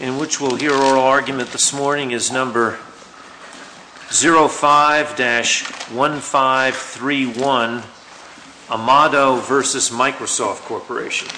...in which we'll hear our argument this morning is number 05-1531, Amado v. Microsoft Corporation.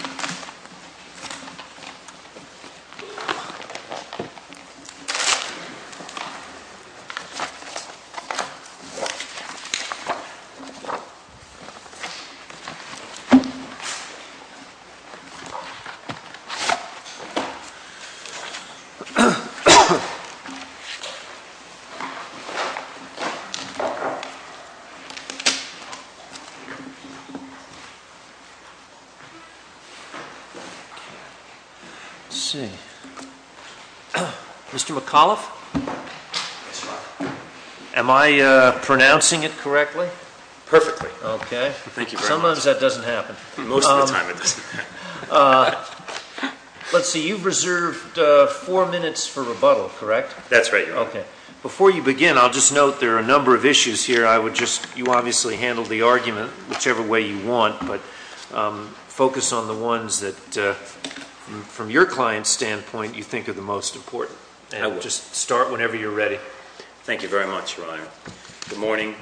Let's see. Mr. McAuliffe? Am I pronouncing it correctly? Perfectly. Okay. Sometimes that doesn't happen. Most of the time it doesn't happen. Let's see. You've reserved four minutes for rebuttal, correct? That's right, Your Honor. Okay. Before you begin, I'll just note there are a number of issues here. I would just, you obviously handled the argument whichever way you want, but focus on the ones that, from your client's standpoint, you think are the most important. And just start whenever you're ready. Thank you very much, Your Honor. Good morning.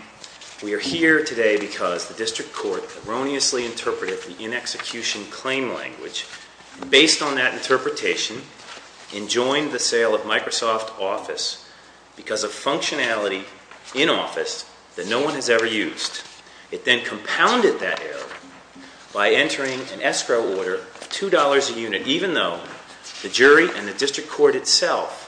We are here today because the District Court erroneously interpreted the in-execution claim language. Based on that interpretation, enjoined the sale of Microsoft Office because of functionality in Office that no one has ever used. It then compounded that error by entering an escrow order of $2 a unit, even though the jury and the District Court itself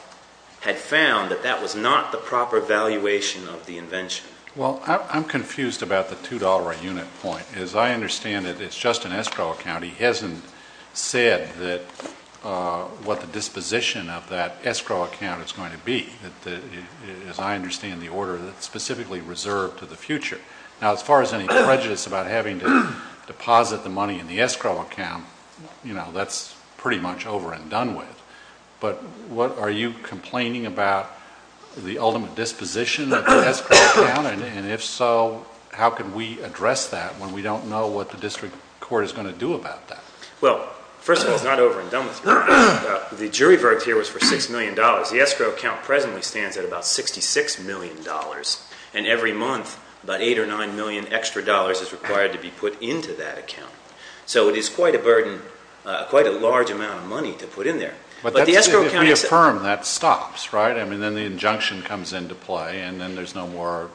had found that that was not the proper valuation of the invention. Well, I'm confused about the $2 a unit point. As I understand it, it's just an escrow account. He hasn't said what the disposition of that escrow account is going to be. As I understand the order, it's specifically reserved to the future. Now, as far as any prejudice about having to deposit the money in the escrow account, you know, that's pretty much over and done with. But are you complaining about the ultimate disposition of the escrow account? And if so, how can we address that when we don't know what the District Court is going to do about that? Well, first of all, it's not over and done with. The jury verdict here was for $6 million. The escrow account presently stands at about $66 million. And every month, about $8 or $9 million extra is required to be put into that account. So it is quite a burden, quite a large amount of money to put in there. But if we affirm, that stops, right? I mean, then the injunction comes into play, and then there's no more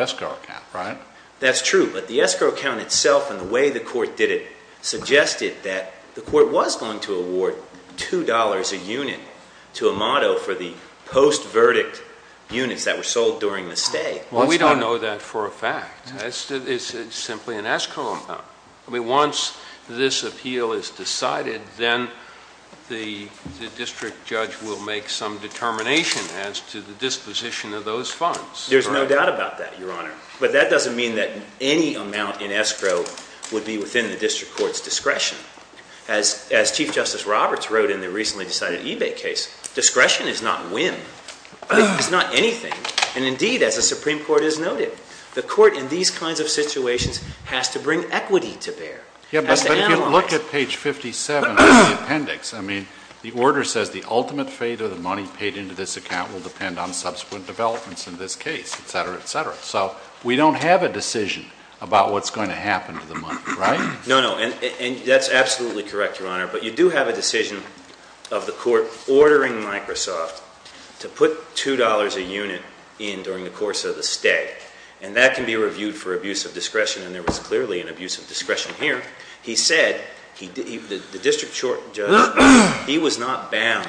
escrow account, right? That's true. But the escrow account itself and the way the Court did it suggested that the Court was going to award $2 a unit to Amato for the post-verdict units that were sold during the stay. Well, we don't know that for a fact. It's simply an escrow amount. I mean, once this appeal is decided, then the District Judge will make some determination as to the disposition of those funds. There's no doubt about that, Your Honor. But that doesn't mean that any amount in escrow would be within the District Court's discretion. As Chief Justice Roberts wrote in the recently decided eBay case, discretion is not win. It's not anything. And indeed, as the Supreme Court has noted, the Court in these kinds of situations has to bring equity to bear, has to analyze. Yeah, but if you look at page 57 of the appendix, I mean, the order says the ultimate fate of the money paid into this account will depend on subsequent developments in this case, etc., etc. So we don't have a decision about what's going to happen to the money, right? No, no. And that's absolutely correct, Your Honor. But you do have a decision of the Court ordering Microsoft to put $2 a unit in during the course of the stay. And that can be reviewed for abuse of discretion, and there was clearly an abuse of discretion here. He said, the District Judge, he was not bound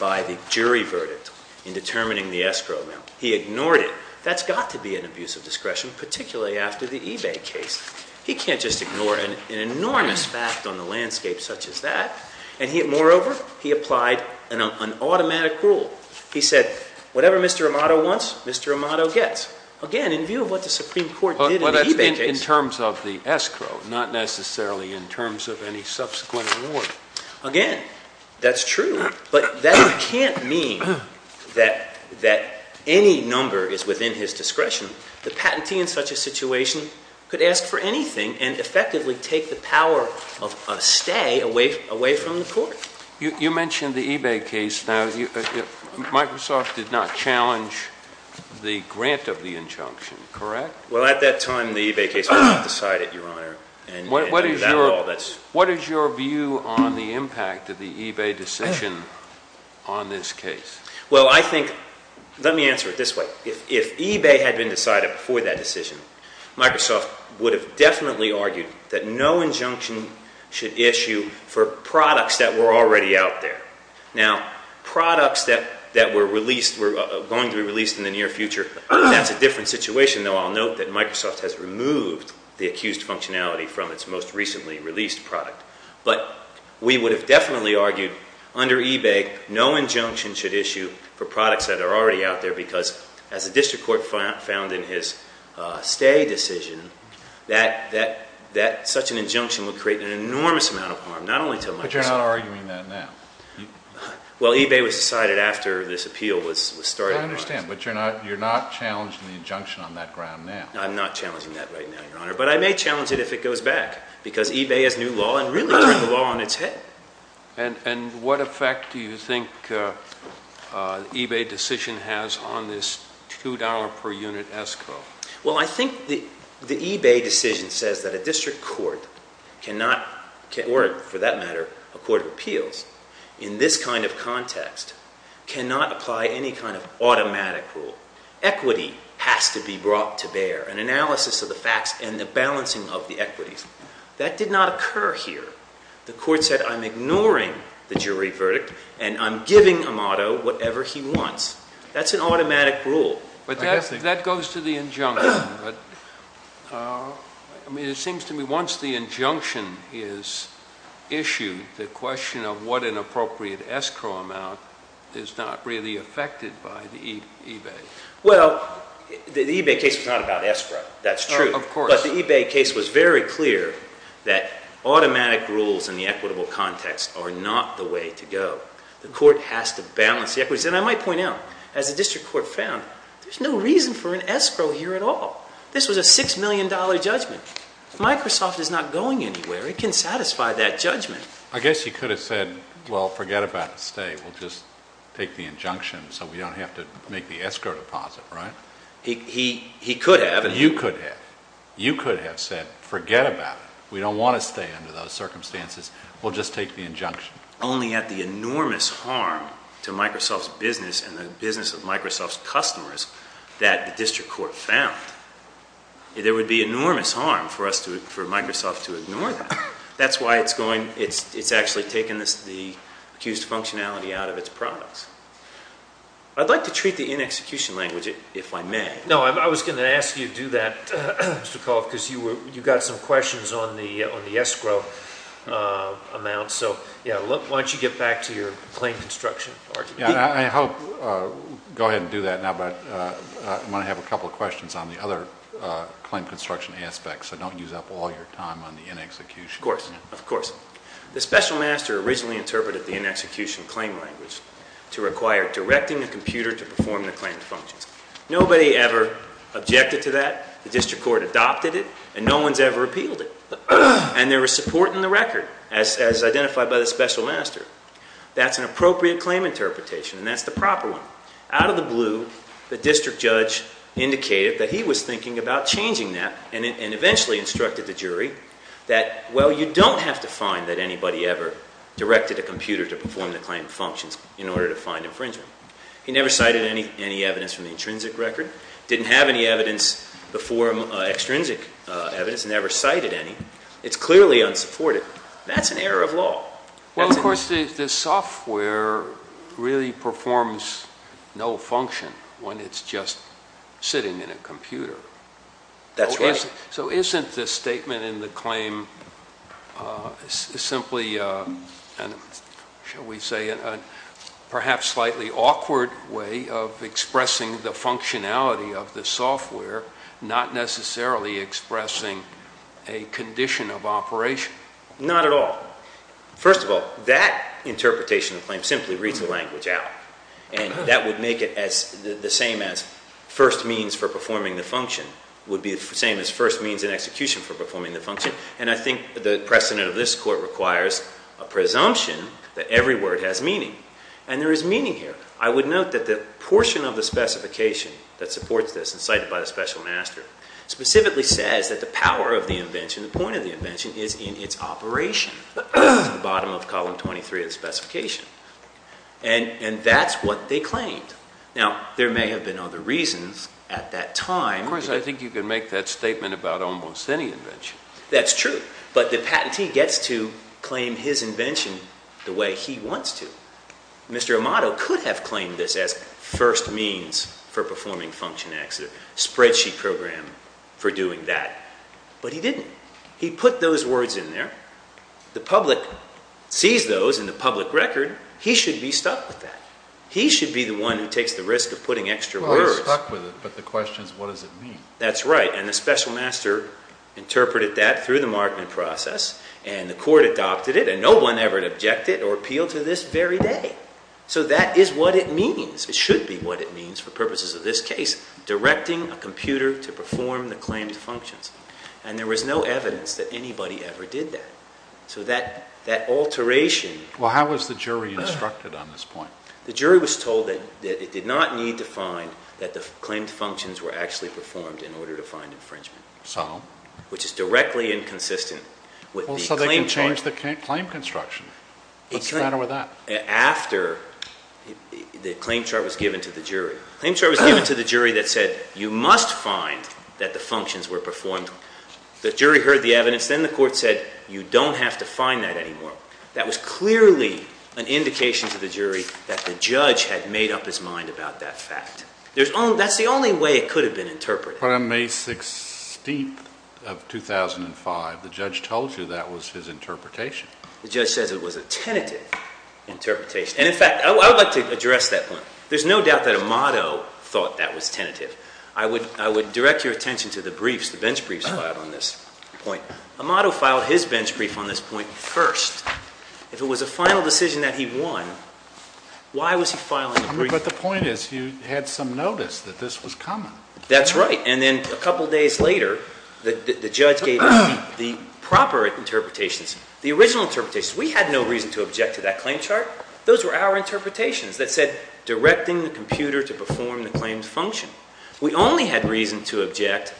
by the jury verdict in determining the escrow amount. He ignored it. That's got to be an abuse of discretion, particularly after the eBay case. He can't just ignore an enormous fact on the landscape such as that. And moreover, he applied an automatic rule. He said, whatever Mr. Amato wants, Mr. Amato gets. Again, in view of what the Supreme Court did in the eBay case— But that's in terms of the escrow, not necessarily in terms of any subsequent award. Again, that's true. But that can't mean that any number is within his discretion. The patentee in such a situation could ask for anything and effectively take the power of a stay away from the Court. You mentioned the eBay case. Now, Microsoft did not challenge the grant of the injunction, correct? Well, at that time, the eBay case was not decided, Your Honor. What is your view on the impact of the eBay decision on this case? Well, I think—let me answer it this way. If eBay had been decided before that decision, Microsoft would have definitely argued that no injunction should issue for products that were already out there. Now, products that were going to be released in the near future, that's a different situation. I'll note that Microsoft has removed the accused functionality from its most recently released product. But we would have definitely argued, under eBay, no injunction should issue for products that are already out there because, as the District Court found in his stay decision, that such an injunction would create an enormous amount of harm, not only to Microsoft. But you're not arguing that now. Well, eBay was decided after this appeal was started, Your Honor. I'm not challenging that right now, Your Honor. But I may challenge it if it goes back because eBay has new law and really turned the law on its head. And what effect do you think the eBay decision has on this $2 per unit escrow? Well, I think the eBay decision says that a District Court cannot—or, for that matter, a court of appeals, in this kind of context, cannot apply any kind of automatic rule. Equity has to be brought to bear, an analysis of the facts and the balancing of the equities. That did not occur here. The court said, I'm ignoring the jury verdict and I'm giving Amato whatever he wants. That's an automatic rule. But that goes to the injunction. But, I mean, it seems to me once the injunction is issued, the question of what an appropriate escrow amount is not really affected by the eBay. Well, the eBay case was not about escrow. That's true. Of course. But the eBay case was very clear that automatic rules in the equitable context are not the way to go. The court has to balance the equities. And I might point out, as the District Court found, there's no reason for an escrow here at all. This was a $6 million judgment. If Microsoft is not going anywhere, it can satisfy that judgment. I guess you could have said, well, forget about a stay. We'll just take the injunction so we don't have to make the escrow deposit, right? He could have. You could have. You could have said, forget about it. We don't want to stay under those circumstances. We'll just take the injunction. Only at the enormous harm to Microsoft's business and the business of Microsoft's customers that the District Court found. There would be enormous harm for Microsoft to ignore that. That's why it's actually taken the accused functionality out of its products. I'd like to treat the inexecution language, if I may. No, I was going to ask you to do that, Mr. Kolf, because you got some questions on the escrow amount. Why don't you get back to your claim construction argument? I hope. Go ahead and do that now, but I'm going to have a couple of questions on the other claim construction aspects. So don't use up all your time on the inexecution. Of course. Of course. The special master originally interpreted the inexecution claim language to require directing the computer to perform the claim functions. Nobody ever objected to that. The District Court adopted it, and no one's ever appealed it. And there was support in the record, as identified by the special master. That's an appropriate claim interpretation, and that's the proper one. Out of the blue, the District Judge indicated that he was thinking about changing that, and eventually instructed the jury that, well, you don't have to find that anybody ever directed a computer to perform the claim functions in order to find infringement. He never cited any evidence from the intrinsic record. Didn't have any evidence before extrinsic evidence. Never cited any. It's clearly unsupported. That's an error of law. Well, of course, the software really performs no function when it's just sitting in a computer. That's right. So isn't the statement in the claim simply, shall we say, a perhaps slightly awkward way of expressing the functionality of the software, not necessarily expressing a condition of operation? Not at all. First of all, that interpretation of the claim simply reads the language out, and that would make it the same as first means for performing the function, would be the same as first means in execution for performing the function, and I think the precedent of this court requires a presumption that every word has meaning, and there is meaning here. I would note that the portion of the specification that supports this, incited by the special master, specifically says that the power of the invention, the point of the invention, is in its operation, at the bottom of column 23 of the specification. And that's what they claimed. Now, there may have been other reasons at that time. Of course, I think you can make that statement about almost any invention. That's true. But the patentee gets to claim his invention the way he wants to. Mr. Amato could have claimed this as first means for performing function acts, a spreadsheet program for doing that, but he didn't. He put those words in there. The public sees those in the public record. He should be stuck with that. He should be the one who takes the risk of putting extra words. Well, we're stuck with it, but the question is what does it mean? That's right, and the special master interpreted that through the Markman process, and the court adopted it, and no one ever objected or appealed to this very day. So that is what it means. It should be what it means for purposes of this case, directing a computer to perform the claimed functions. And there was no evidence that anybody ever did that. So that alteration. Well, how was the jury instructed on this point? The jury was told that it did not need to find that the claimed functions were actually performed in order to find infringement. So? Which is directly inconsistent with the claim chart. Well, so they could change the claim construction. What's the matter with that? After the claim chart was given to the jury. The claim chart was given to the jury that said you must find that the functions were performed. The jury heard the evidence. Then the court said you don't have to find that anymore. That was clearly an indication to the jury that the judge had made up his mind about that fact. That's the only way it could have been interpreted. But on May 16th of 2005, the judge told you that was his interpretation. The judge says it was a tentative interpretation. And, in fact, I would like to address that point. There's no doubt that Amato thought that was tentative. I would direct your attention to the briefs, the bench briefs filed on this point. Amato filed his bench brief on this point first. If it was a final decision that he won, why was he filing the brief? But the point is you had some notice that this was common. That's right. And then a couple days later, the judge gave the proper interpretations, the original interpretations. We had no reason to object to that claim chart. Those were our interpretations that said directing the computer to perform the claimed function. We only had reason to object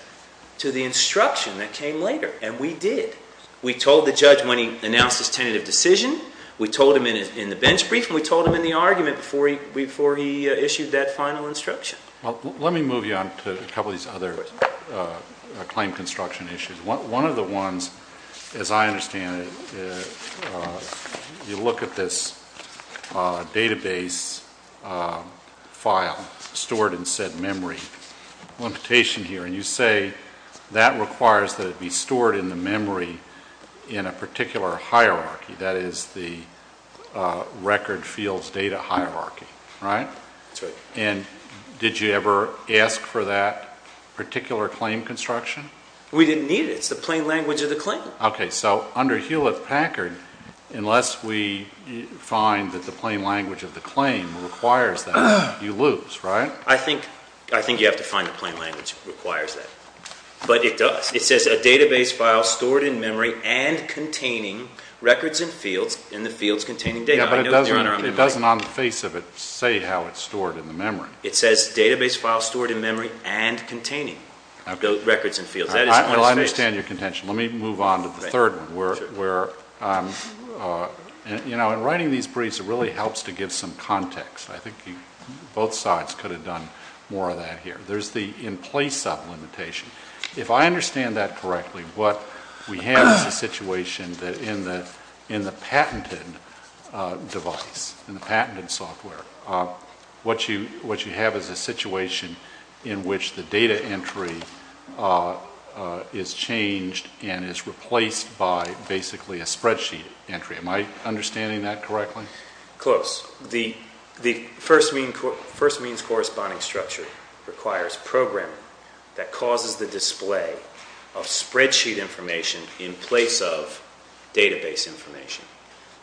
to the instruction that came later, and we did. We told the judge when he announced his tentative decision. We told him in the bench brief, and we told him in the argument before he issued that final instruction. Well, let me move you on to a couple of these other claim construction issues. One of the ones, as I understand it, you look at this database file stored in said memory. A limitation here, and you say that requires that it be stored in the memory in a particular hierarchy. That is the record fields data hierarchy, right? That's right. And did you ever ask for that particular claim construction? We didn't need it. It's the plain language of the claim. Okay. So under Hewlett-Packard, unless we find that the plain language of the claim requires that, you lose, right? I think you have to find the plain language that requires that. But it does. It says a database file stored in memory and containing records and fields in the fields containing data. Yeah, but it doesn't on the face of it say how it's stored in the memory. It says database file stored in memory and containing records and fields. Well, I understand your contention. Let me move on to the third one where, you know, in writing these briefs, it really helps to give some context. I think both sides could have done more of that here. There's the in place up limitation. If I understand that correctly, what we have is a situation that in the patented device, in the patented software, what you have is a situation in which the data entry is changed and is replaced by basically a spreadsheet entry. Am I understanding that correctly? Close. The first means corresponding structure requires programming that causes the display of spreadsheet information in place of database information.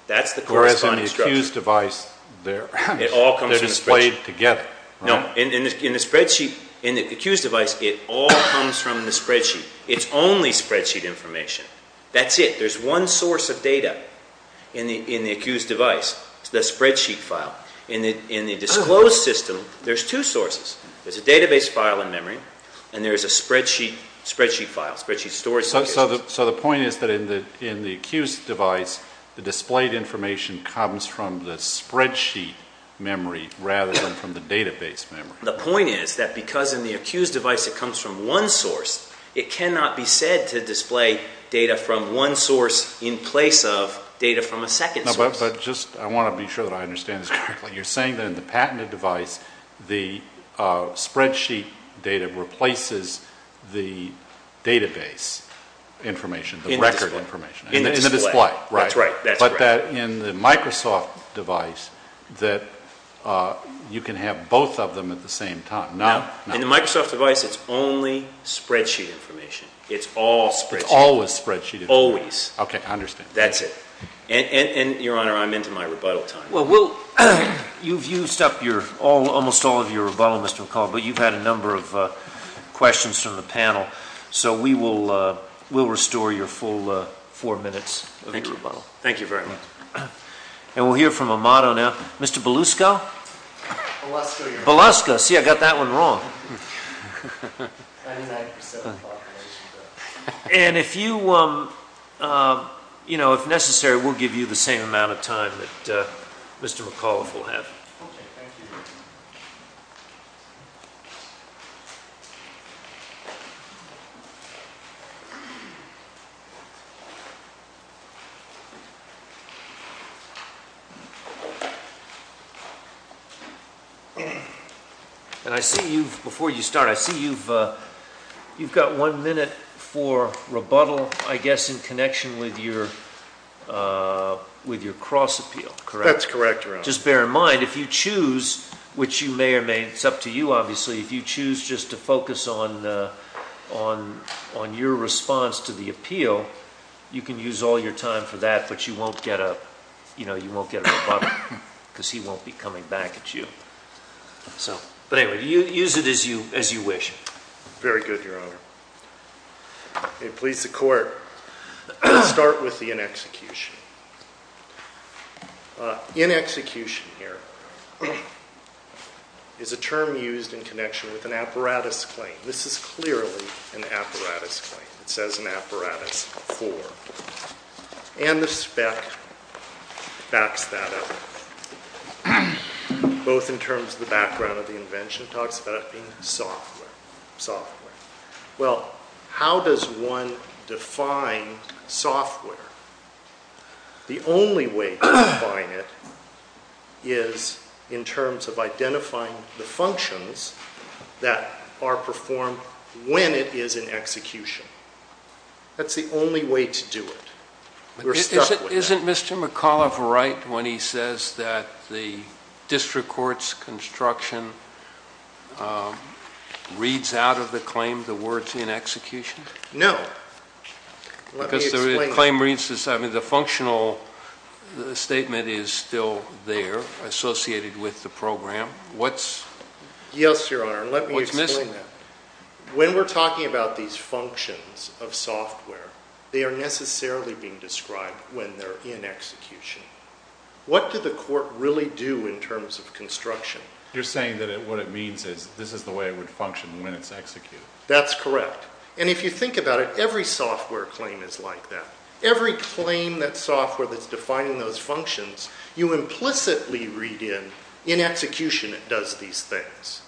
That's the corresponding structure. Whereas in the accused device, they're displayed together, right? No, in the spreadsheet, in the accused device, it all comes from the spreadsheet. It's only spreadsheet information. That's it. There's one source of data in the accused device. It's the spreadsheet file. In the disclosed system, there's two sources. There's a database file in memory and there's a spreadsheet file, spreadsheet storage. So the point is that in the accused device, the displayed information comes from the spreadsheet memory rather than from the database memory. The point is that because in the accused device, it comes from one source, it cannot be said to display data from one source in place of data from a second source. I want to be sure that I understand this correctly. You're saying that in the patented device, the spreadsheet data replaces the database information, the record information, in the display, right? That's right. But in the Microsoft device, you can have both of them at the same time. No. In the Microsoft device, it's only spreadsheet information. It's always spreadsheet information. Always. Okay, I understand. That's it. And, Your Honor, I'm into my rebuttal time. Well, you've used up almost all of your rebuttal, Mr. McCall, but you've had a number of questions from the panel. So we will restore your full four minutes of your rebuttal. Thank you. Thank you very much. And we'll hear from Amato now. Mr. Belusco? Belusco, Your Honor. Belusco. See, I got that one wrong. And if you, you know, if necessary, we'll give you the same amount of time that Mr. McAuliffe will have. Okay, thank you. Thank you. And I see you've, before you start, I see you've got one minute for rebuttal, I guess, in connection with your cross appeal, correct? Just bear in mind, if you choose, which you may or may, it's up to you, obviously, if you choose just to focus on your response to the appeal, you can use all your time for that, but you won't get a, you know, you won't get a rebuttal because he won't be coming back at you. So, but anyway, use it as you wish. Very good, Your Honor. It pleads the Court to start with the inexecution. Inexecution here is a term used in connection with an apparatus claim. This is clearly an apparatus claim. It says an apparatus for. And the spec backs that up, both in terms of the background of the invention, talks about it being software. Software. Well, how does one define software? The only way to define it is in terms of identifying the functions that are performed when it is in execution. That's the only way to do it. Isn't Mr. McAuliffe right when he says that the district court's construction reads out of the claim the words inexecution? No. Because the claim reads, I mean, the functional statement is still there associated with the program. What's? Yes, Your Honor. Let me explain that. What's missing? When we're talking about these functions of software, they are necessarily being described when they're in execution. What did the court really do in terms of construction? You're saying that what it means is this is the way it would function when it's executed. That's correct. And if you think about it, every software claim is like that. Every claim that software that's defining those functions, you implicitly read in, in execution it does these things.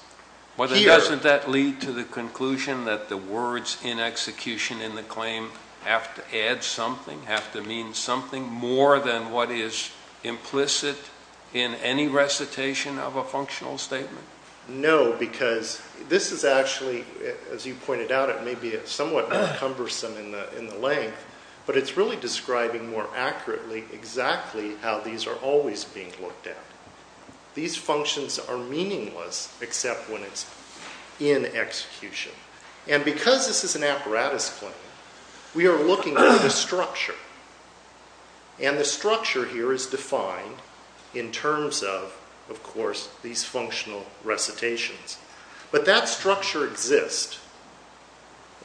But doesn't that lead to the conclusion that the words in execution in the claim have to add something, have to mean something more than what is implicit in any recitation of a functional statement? No, because this is actually, as you pointed out, it may be somewhat cumbersome in the length, but it's really describing more accurately exactly how these are always being looked at. These functions are meaningless except when it's in execution. And because this is an apparatus claim, we are looking at the structure. And the structure here is defined in terms of, of course, these functional recitations. But that structure exists,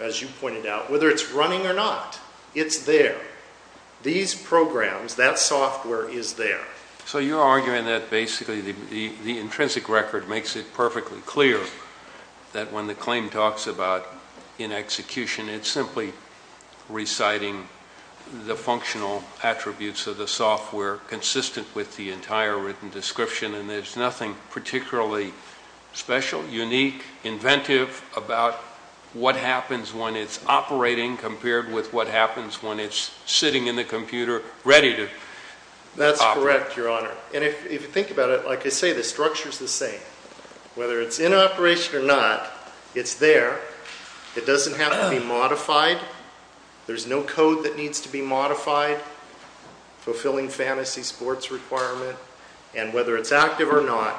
as you pointed out, whether it's running or not, it's there. These programs, that software is there. So you're arguing that basically the intrinsic record makes it perfectly clear that when the claim talks about in execution, it's simply reciting the functional attributes of the software consistent with the entire written description and there's nothing particularly special, unique, inventive about what happens when it's operating compared with what happens when it's sitting in the computer ready to operate. That's correct, Your Honor. And if you think about it, like I say, the structure's the same. Whether it's in operation or not, it's there. It doesn't have to be modified. There's no code that needs to be modified, fulfilling fantasy sports requirement. And whether it's active or not,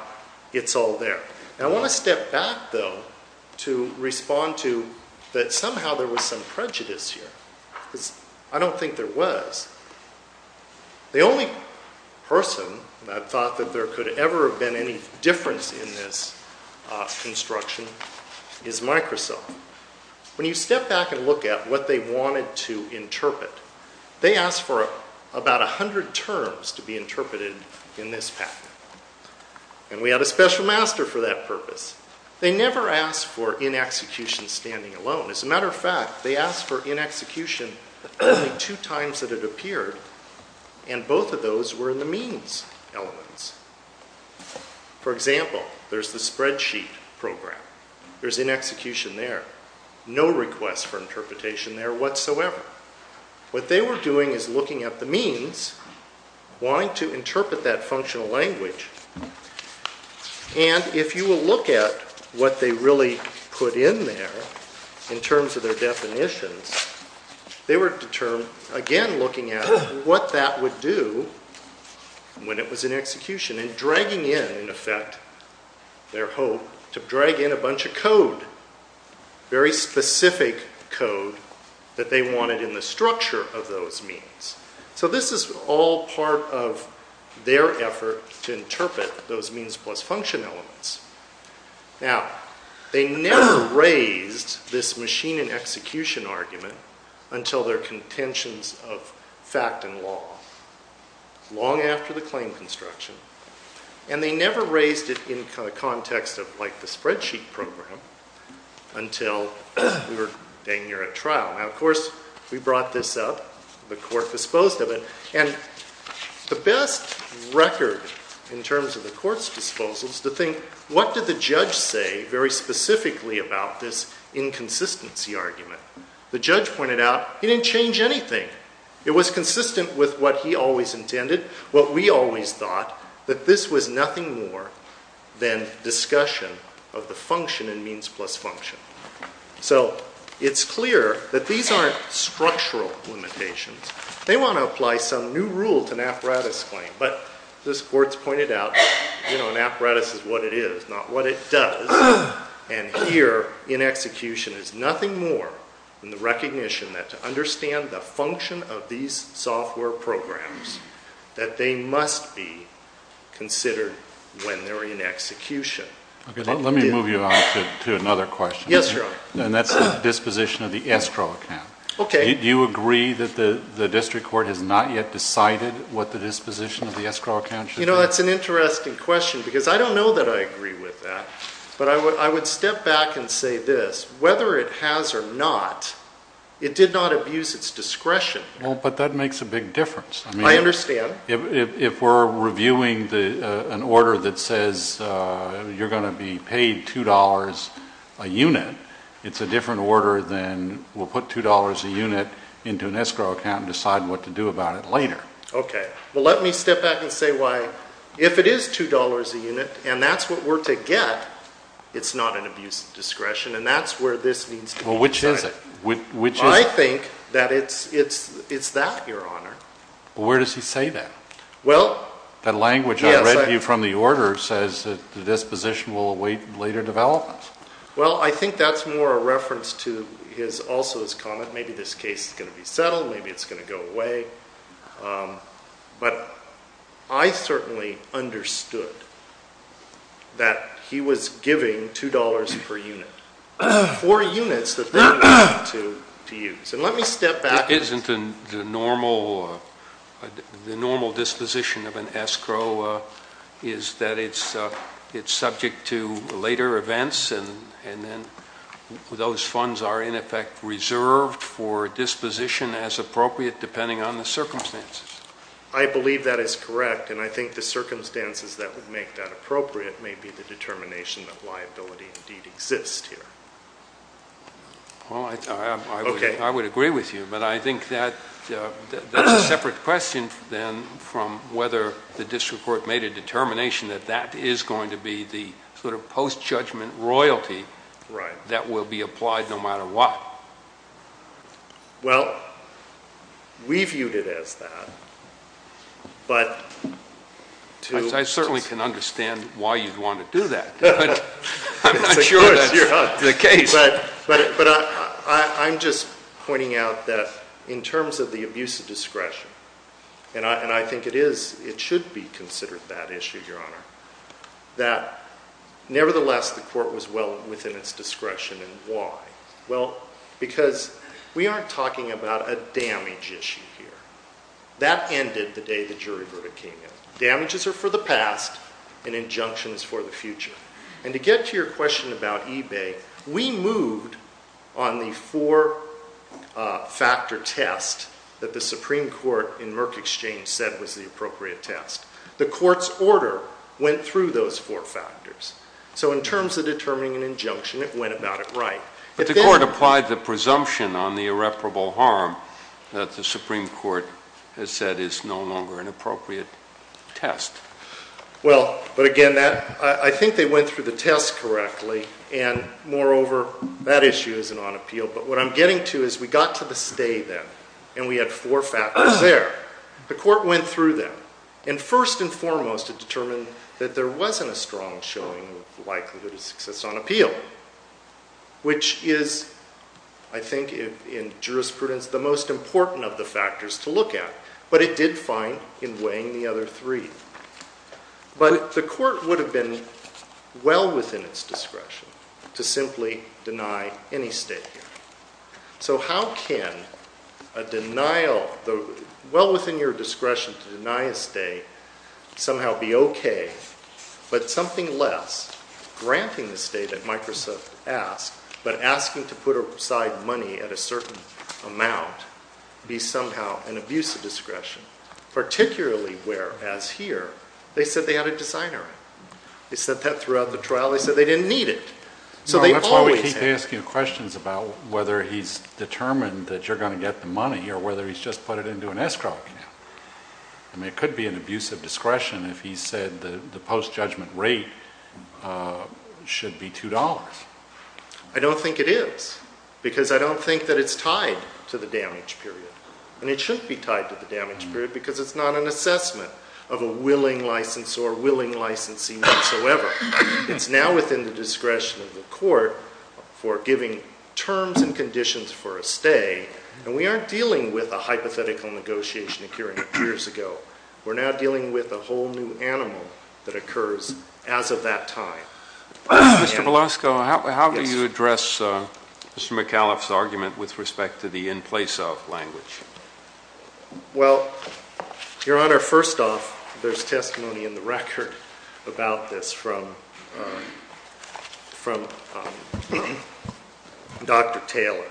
it's all there. I want to step back, though, to respond to that somehow there was some prejudice here. Because I don't think there was. The only person that thought that there could ever have been any difference in this construction is Microsoft. When you step back and look at what they wanted to interpret, they asked for about 100 terms to be interpreted in this pattern. And we had a special master for that purpose. They never asked for in execution standing alone. As a matter of fact, they asked for in execution only two times that it appeared. And both of those were in the means elements. For example, there's the spreadsheet program. There's in execution there. No request for interpretation there whatsoever. What they were doing is looking at the means, wanting to interpret that functional language. And if you will look at what they really put in there in terms of their definitions, they were again looking at what that would do when it was in execution. And dragging in, in effect, their hope to drag in a bunch of code. Very specific code that they wanted in the structure of those means. So this is all part of their effort to interpret those means plus function elements. Now, they never raised this machine in execution argument until their contentions of fact and law. Long after the claim construction. And they never raised it in the context of the spreadsheet program until we were at trial. Now, of course, we brought this up. The court disposed of it. And the best record in terms of the court's disposal is to think, what did the judge say very specifically about this inconsistency argument? The judge pointed out he didn't change anything. It was consistent with what he always intended, what we always thought, that this was nothing more than discussion of the function in means plus function. So it's clear that these aren't structural limitations. They want to apply some new rule to an apparatus claim. But this court's pointed out, you know, an apparatus is what it is, not what it does. And here, in execution, is nothing more than the recognition that to understand the function of these software programs, that they must be considered when they're in execution. Let me move you on to another question. Yes, Your Honor. And that's the disposition of the escrow account. Okay. Do you agree that the district court has not yet decided what the disposition of the escrow account should be? You know, that's an interesting question, because I don't know that I agree with that. But I would step back and say this. Whether it has or not, it did not abuse its discretion. Well, but that makes a big difference. I understand. If we're reviewing an order that says you're going to be paid $2 a unit, it's a different order than we'll put $2 a unit into an escrow account and decide what to do about it later. Okay. Well, let me step back and say why. If it is $2 a unit, and that's what we're to get, it's not an abuse of discretion, and that's where this needs to be decided. Well, which is it? I think that it's that, Your Honor. Well, where does he say that? Well, yes. That language I read to you from the order says that the disposition will await later developments. Well, I think that's more a reference to also his comment, maybe this case is going to be settled, maybe it's going to go away. But I certainly understood that he was giving $2 per unit for units that they wanted to use. And let me step back. Isn't the normal disposition of an escrow is that it's subject to later events, and then those funds are, in effect, reserved for disposition as appropriate depending on the circumstances? I believe that is correct, and I think the circumstances that would make that appropriate may be the determination that liability indeed exists here. Well, I would agree with you, but I think that's a separate question then from whether the district court made a determination that that is going to be the sort of post-judgment royalty that will be applied no matter what. Well, we viewed it as that, but to... I certainly can understand why you'd want to do that. I'm not sure that's the case. But I'm just pointing out that in terms of the abuse of discretion, and I think it should be considered that issue, Your Honor, that nevertheless the court was well within its discretion, and why? Well, because we aren't talking about a damage issue here. That ended the day the jury verdict came in. Damages are for the past and injunctions for the future. And to get to your question about eBay, we moved on the four-factor test that the Supreme Court in Merck Exchange said was the appropriate test. The Court's order went through those four factors. So in terms of determining an injunction, it went about it right. But the Court applied the presumption on the irreparable harm that the Supreme Court has said is no longer an appropriate test. Well, but again, I think they went through the test correctly, and moreover, that issue isn't on appeal. But what I'm getting to is we got to the stay then, and we had four factors there. The Court went through them, and first and foremost, it determined that there wasn't a strong showing of likelihood of success on appeal, which is, I think in jurisprudence, the most important of the factors to look at. But it did fine in weighing the other three. But the Court would have been well within its discretion to simply deny any stay here. So how can a denial, well within your discretion to deny a stay, somehow be okay, but something less, granting the stay that Microsoft asked, but asking to put aside money at a certain amount, be somehow an abuse of discretion, particularly where, as here, they said they had a designer. They said that throughout the trial. They said they didn't need it. So they always had it. That's why we keep asking questions about whether he's determined that you're going to get the money or whether he's just put it into an escrow account. I mean, it could be an abuse of discretion if he said the post-judgment rate should be $2. I don't think it is because I don't think that it's tied to the damage period. And it shouldn't be tied to the damage period because it's not an assessment of a willing licensor, willing licensee whatsoever. It's now within the discretion of the Court for giving terms and conditions for a stay, and we aren't dealing with a hypothetical negotiation occurring years ago. We're now dealing with a whole new animal that occurs as of that time. Mr. Belosco, how do you address Mr. McAuliffe's argument with respect to the in place of language? Well, Your Honor, first off, there's testimony in the record about this from Dr. Taylor.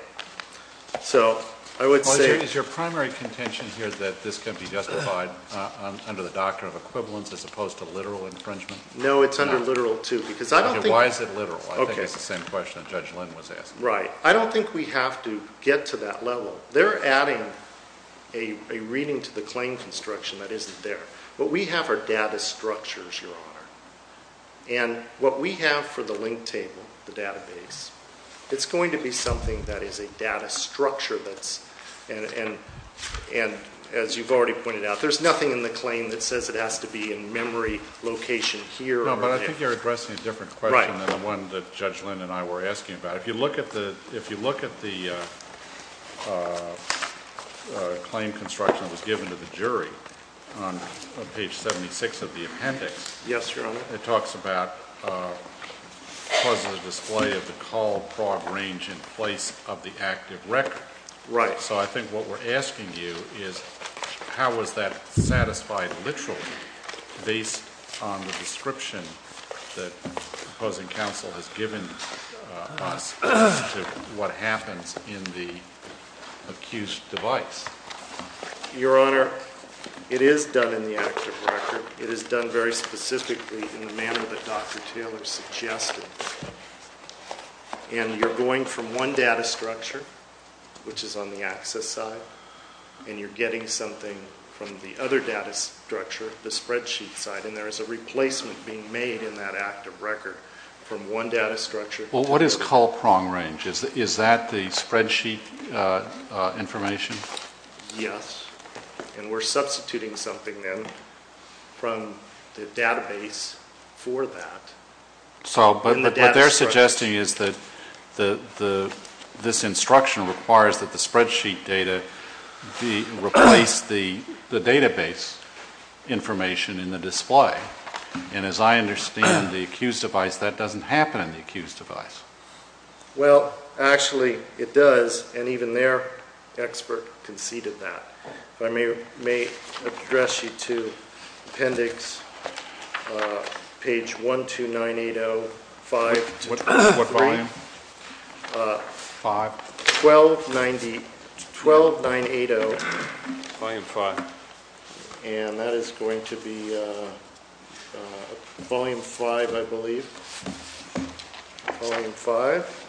Is your primary contention here that this can be justified under the doctrine of equivalence as opposed to literal infringement? No, it's under literal, too. Okay, why is it literal? I think it's the same question that Judge Lynn was asking. Right. I don't think we have to get to that level. They're adding a reading to the claim construction that isn't there. What we have are data structures, Your Honor. And what we have for the link table, the database, it's going to be something that is a data structure that's, and as you've already pointed out, there's nothing in the claim that says it has to be in memory location here. No, but I think you're addressing a different question than the one that Judge Lynn and I were asking about. If you look at the claim construction that was given to the jury on page 76 of the appendix, Yes, Your Honor. it talks about causing the display of the call prog range in place of the active record. Right. So I think what we're asking you is how was that satisfied literally based on the description that opposing counsel has given us as to what happens in the accused device? Your Honor, it is done in the active record. It is done very specifically in the manner that Dr. Taylor suggested. And you're going from one data structure, which is on the access side, and you're getting something from the other data structure, the spreadsheet side, and there is a replacement being made in that active record from one data structure. Well, what is call prong range? Is that the spreadsheet information? Yes, and we're substituting something then from the database for that. So what they're suggesting is that this instruction requires that the spreadsheet data replace the database information in the display. And as I understand, the accused device, that doesn't happen in the accused device. Well, actually, it does, and even their expert conceded that. If I may address you to appendix page 12980, 5 to 23. What volume? 5? 12980. Volume 5. And that is going to be volume 5, I believe. Volume 5.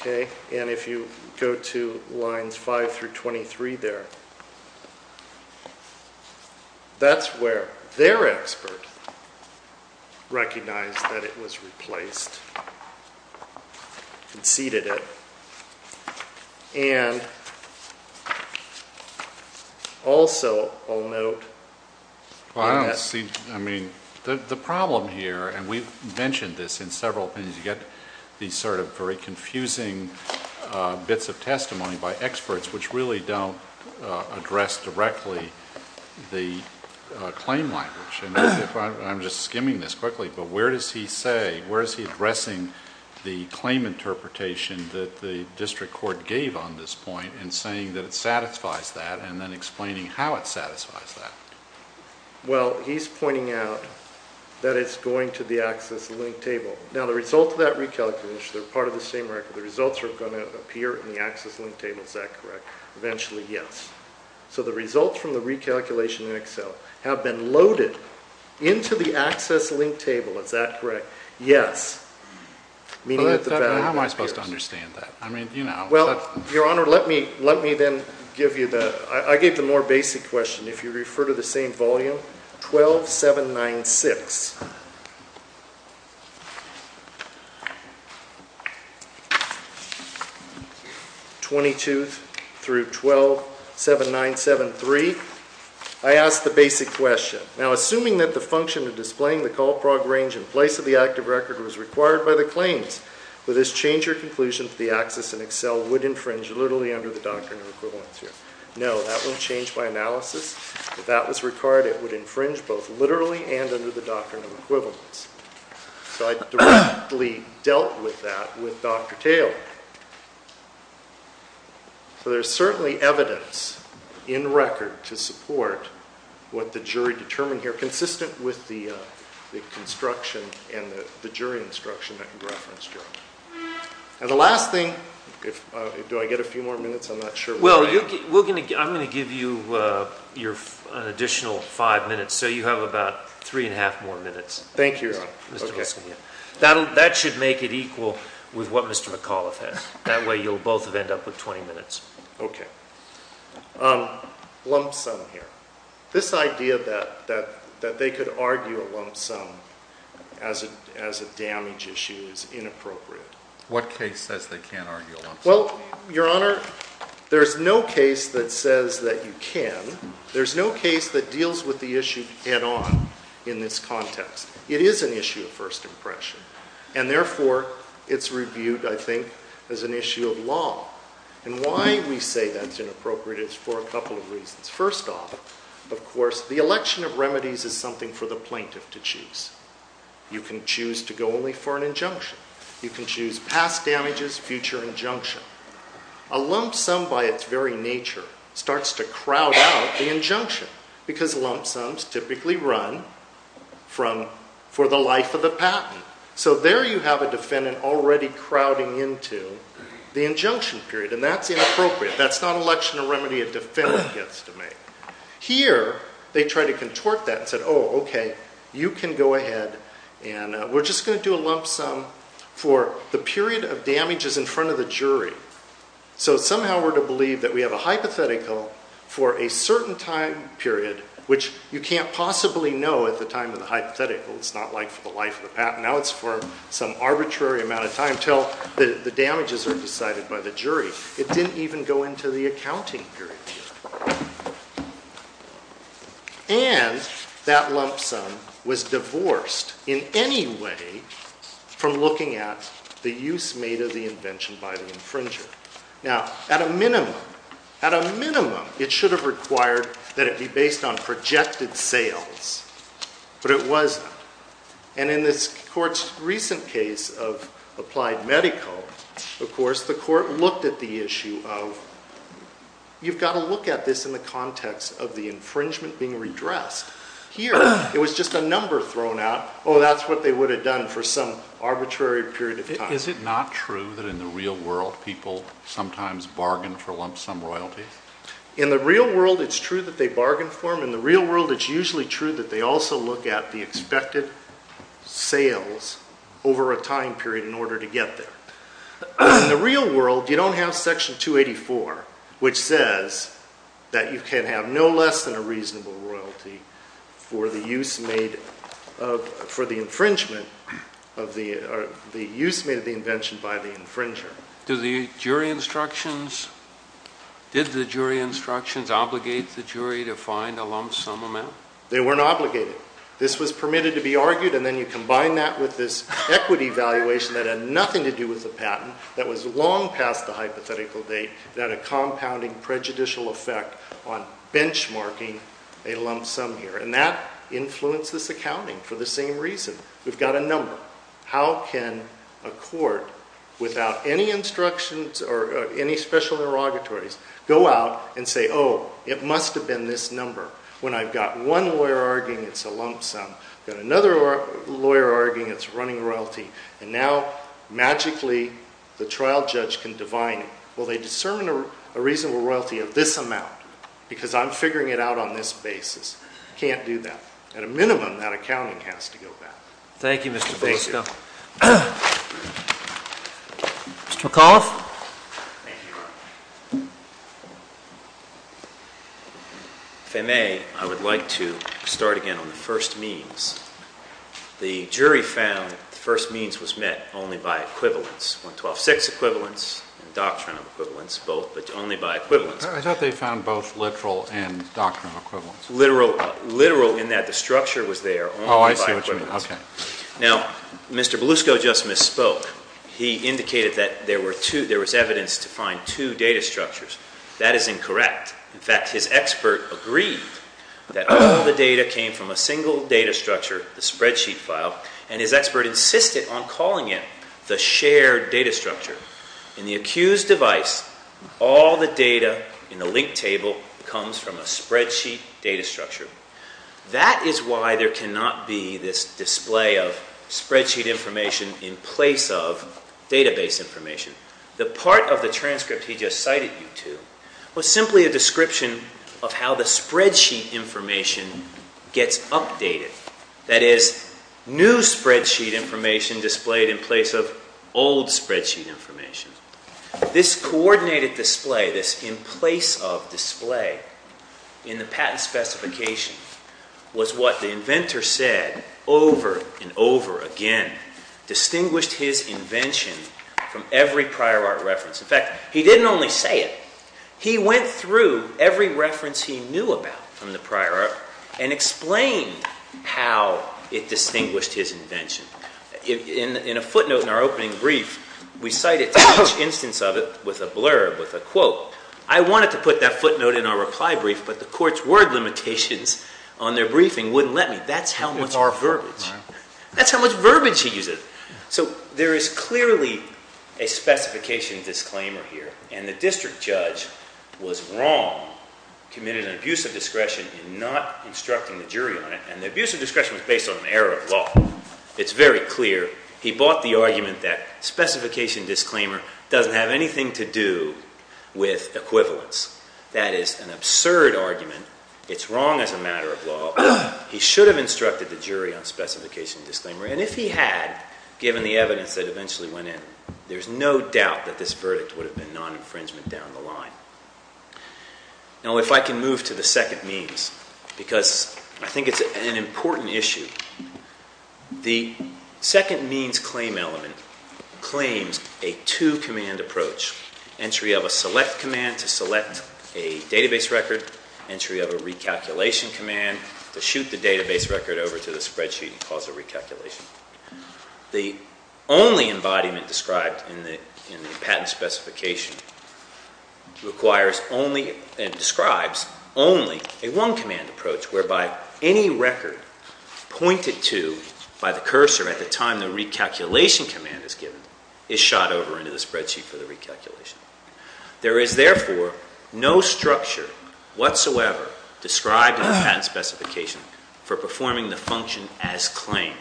Okay, and if you go to lines 5 through 23 there, that's where their expert recognized that it was replaced and conceded it. And also, I'll note, Well, I don't see, I mean, the problem here, and we've mentioned this in several opinions, you get these sort of very confusing bits of testimony by experts which really don't address directly the claim language. And I'm just skimming this quickly, but where does he say, where is he addressing the claim interpretation that the district court gave on this point and saying that it satisfies that and then explaining how it satisfies that? Well, he's pointing out that it's going to the access link table. Now, the result of that recalculation, they're part of the same record, the results are going to appear in the access link table, is that correct? Eventually, yes. So the results from the recalculation in Excel have been loaded into the access link table, is that correct? Yes. How am I supposed to understand that? Well, Your Honor, let me then give you the, I gave the more basic question. If you refer to the same volume, 12.796, 22 through 12.7973, I asked the basic question. Now, assuming that the function of displaying the call prog range in place of the active record was required by the claims, would this change your conclusion that the access in Excel would infringe literally under the doctrine of equivalency? No, that wouldn't change my analysis. If that was required, it would infringe both literally and under the doctrine of equivalence. So I directly dealt with that with Dr. Taylor. So there's certainly evidence in record to support what the jury determined here, consistent with the construction and the jury instruction that you referenced, Your Honor. And the last thing, do I get a few more minutes? I'm not sure where I am. Well, I'm going to give you an additional five minutes. So you have about three and a half more minutes. Thank you, Your Honor. That should make it equal with what Mr. McAuliffe has. That way you'll both end up with 20 minutes. Okay. Lump sum here. This idea that they could argue a lump sum as a damage issue is inappropriate. What case says they can't argue a lump sum? Well, Your Honor, there's no case that says that you can. There's no case that deals with the issue head on in this context. It is an issue of first impression, and therefore it's reviewed, I think, as an issue of law. And why we say that's inappropriate is for a couple of reasons. First off, of course, the election of remedies is something for the plaintiff to choose. You can choose to go only for an injunction. You can choose past damages, future injunction. A lump sum by its very nature starts to crowd out the injunction because lump sums typically run for the life of the patent. So there you have a defendant already crowding into the injunction period, and that's inappropriate. That's not an election of remedy a defendant gets to make. Here they try to contort that and say, oh, okay, you can go ahead and we're just going to do a lump sum for the period of damages in front of the jury. So somehow we're to believe that we have a hypothetical for a certain time period, which you can't possibly know at the time of the hypothetical. It's not like for the life of the patent. Now it's for some arbitrary amount of time until the damages are decided by the jury. It didn't even go into the accounting period. And that lump sum was divorced in any way from looking at the use made of the invention by the infringer. Now, at a minimum, at a minimum, it should have required that it be based on projected sales, but it wasn't. And in this court's recent case of applied medical, of course, the court looked at the issue of, you've got to look at this in the context of the infringement being redressed. Here it was just a number thrown out. Oh, that's what they would have done for some arbitrary period of time. Is it not true that in the real world people sometimes bargain for lump sum royalties? In the real world it's true that they bargain for them. In the real world it's usually true that they also look at the expected sales over a time period in order to get there. In the real world, you don't have Section 284, which says that you can have no less than a reasonable royalty for the use made of, for the infringement of the, or the use made of the invention by the infringer. Do the jury instructions, did the jury instructions obligate the jury to find a lump sum amount? They weren't obligated. This was permitted to be argued, and then you combine that with this equity valuation that had nothing to do with the patent, that was long past the hypothetical date, that a compounding prejudicial effect on benchmarking a lump sum here. And that influences accounting for the same reason. We've got a number. How can a court, without any instructions or any special derogatories, go out and say, oh, it must have been this number? When I've got one lawyer arguing it's a lump sum, got another lawyer arguing it's running royalty, and now magically the trial judge can divine it. Well, they discern a reasonable royalty of this amount because I'm figuring it out on this basis. Can't do that. At a minimum, that accounting has to go back. Thank you, Mr. Fulisco. Thank you. Mr. McAuliffe? Thank you. If I may, I would like to start again on the first means. The jury found the first means was met only by equivalence, 112-6 equivalence and doctrinal equivalence, both, but only by equivalence. I thought they found both literal and doctrinal equivalence. Literal in that the structure was there only by equivalence. Oh, I see what you mean. Okay. Now, Mr. Belusco just misspoke. He indicated that there was evidence to find two data structures. That is incorrect. In fact, his expert agreed that all the data came from a single data structure, the spreadsheet file, and his expert insisted on calling it the shared data structure. In the accused device, all the data in the link table comes from a spreadsheet data structure. That is why there cannot be this display of spreadsheet information in place of database information. The part of the transcript he just cited you to was simply a description of how the spreadsheet information gets updated. That is, new spreadsheet information displayed in place of old spreadsheet information. This coordinated display, this in place of display in the patent specification was what the inventor said over and over again, distinguished his invention from every prior art reference. In fact, he did not only say it. He went through every reference he knew about from the prior art and explained how it distinguished his invention. In a footnote in our opening brief, we cited each instance of it with a blurb, with a quote. I wanted to put that footnote in our reply brief, but the court's word limitations on their briefing wouldn't let me. That's how much verbiage. That's how much verbiage he uses. So there is clearly a specification disclaimer here, and the district judge was wrong, committed an abuse of discretion in not instructing the jury on it, and the abuse of discretion was based on an error of law. It's very clear he bought the argument that specification disclaimer doesn't have anything to do with equivalence. That is an absurd argument. It's wrong as a matter of law. He should have instructed the jury on specification disclaimer, and if he had, given the evidence that eventually went in, there's no doubt that this verdict would have been non-infringement down the line. Now, if I can move to the second means, because I think it's an important issue. The second means claim element claims a two-command approach, entry of a select command to select a database record, entry of a recalculation command to shoot the database record over to the spreadsheet and cause a recalculation. The only embodiment described in the patent specification requires only and describes only a one-command approach, whereby any record pointed to by the cursor at the time the recalculation command is given is shot over into the spreadsheet for the recalculation. There is, therefore, no structure whatsoever described in the patent specification for performing the function as claimed.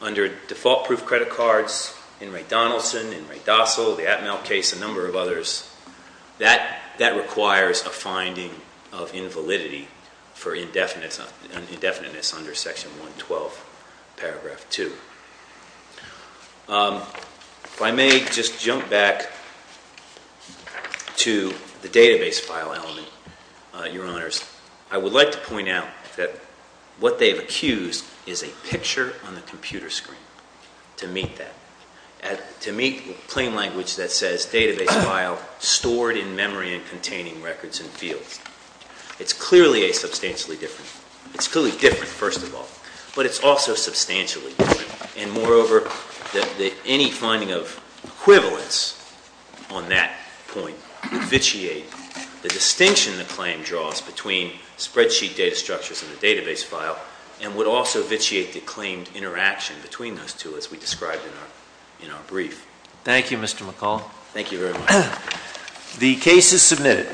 Under default proof credit cards, in Ray Donaldson, in Ray Dossal, the Atmel case, a number of others, that requires a finding of invalidity for indefiniteness under Section 112, Paragraph 2. If I may just jump back to the database file element, Your Honors, I would like to point out that what they've accused is a picture on the computer screen to meet that, to meet claim language that says database file stored in memory and containing records and fields. It's clearly a substantially different, it's clearly different, first of all, but it's also substantially different. And moreover, any finding of equivalence on that point would vitiate the distinction the claim draws between spreadsheet data structures and the database file and would also vitiate the claimed interaction between those two as we described in our brief. Thank you, Mr. McCall. Thank you very much. The case is submitted.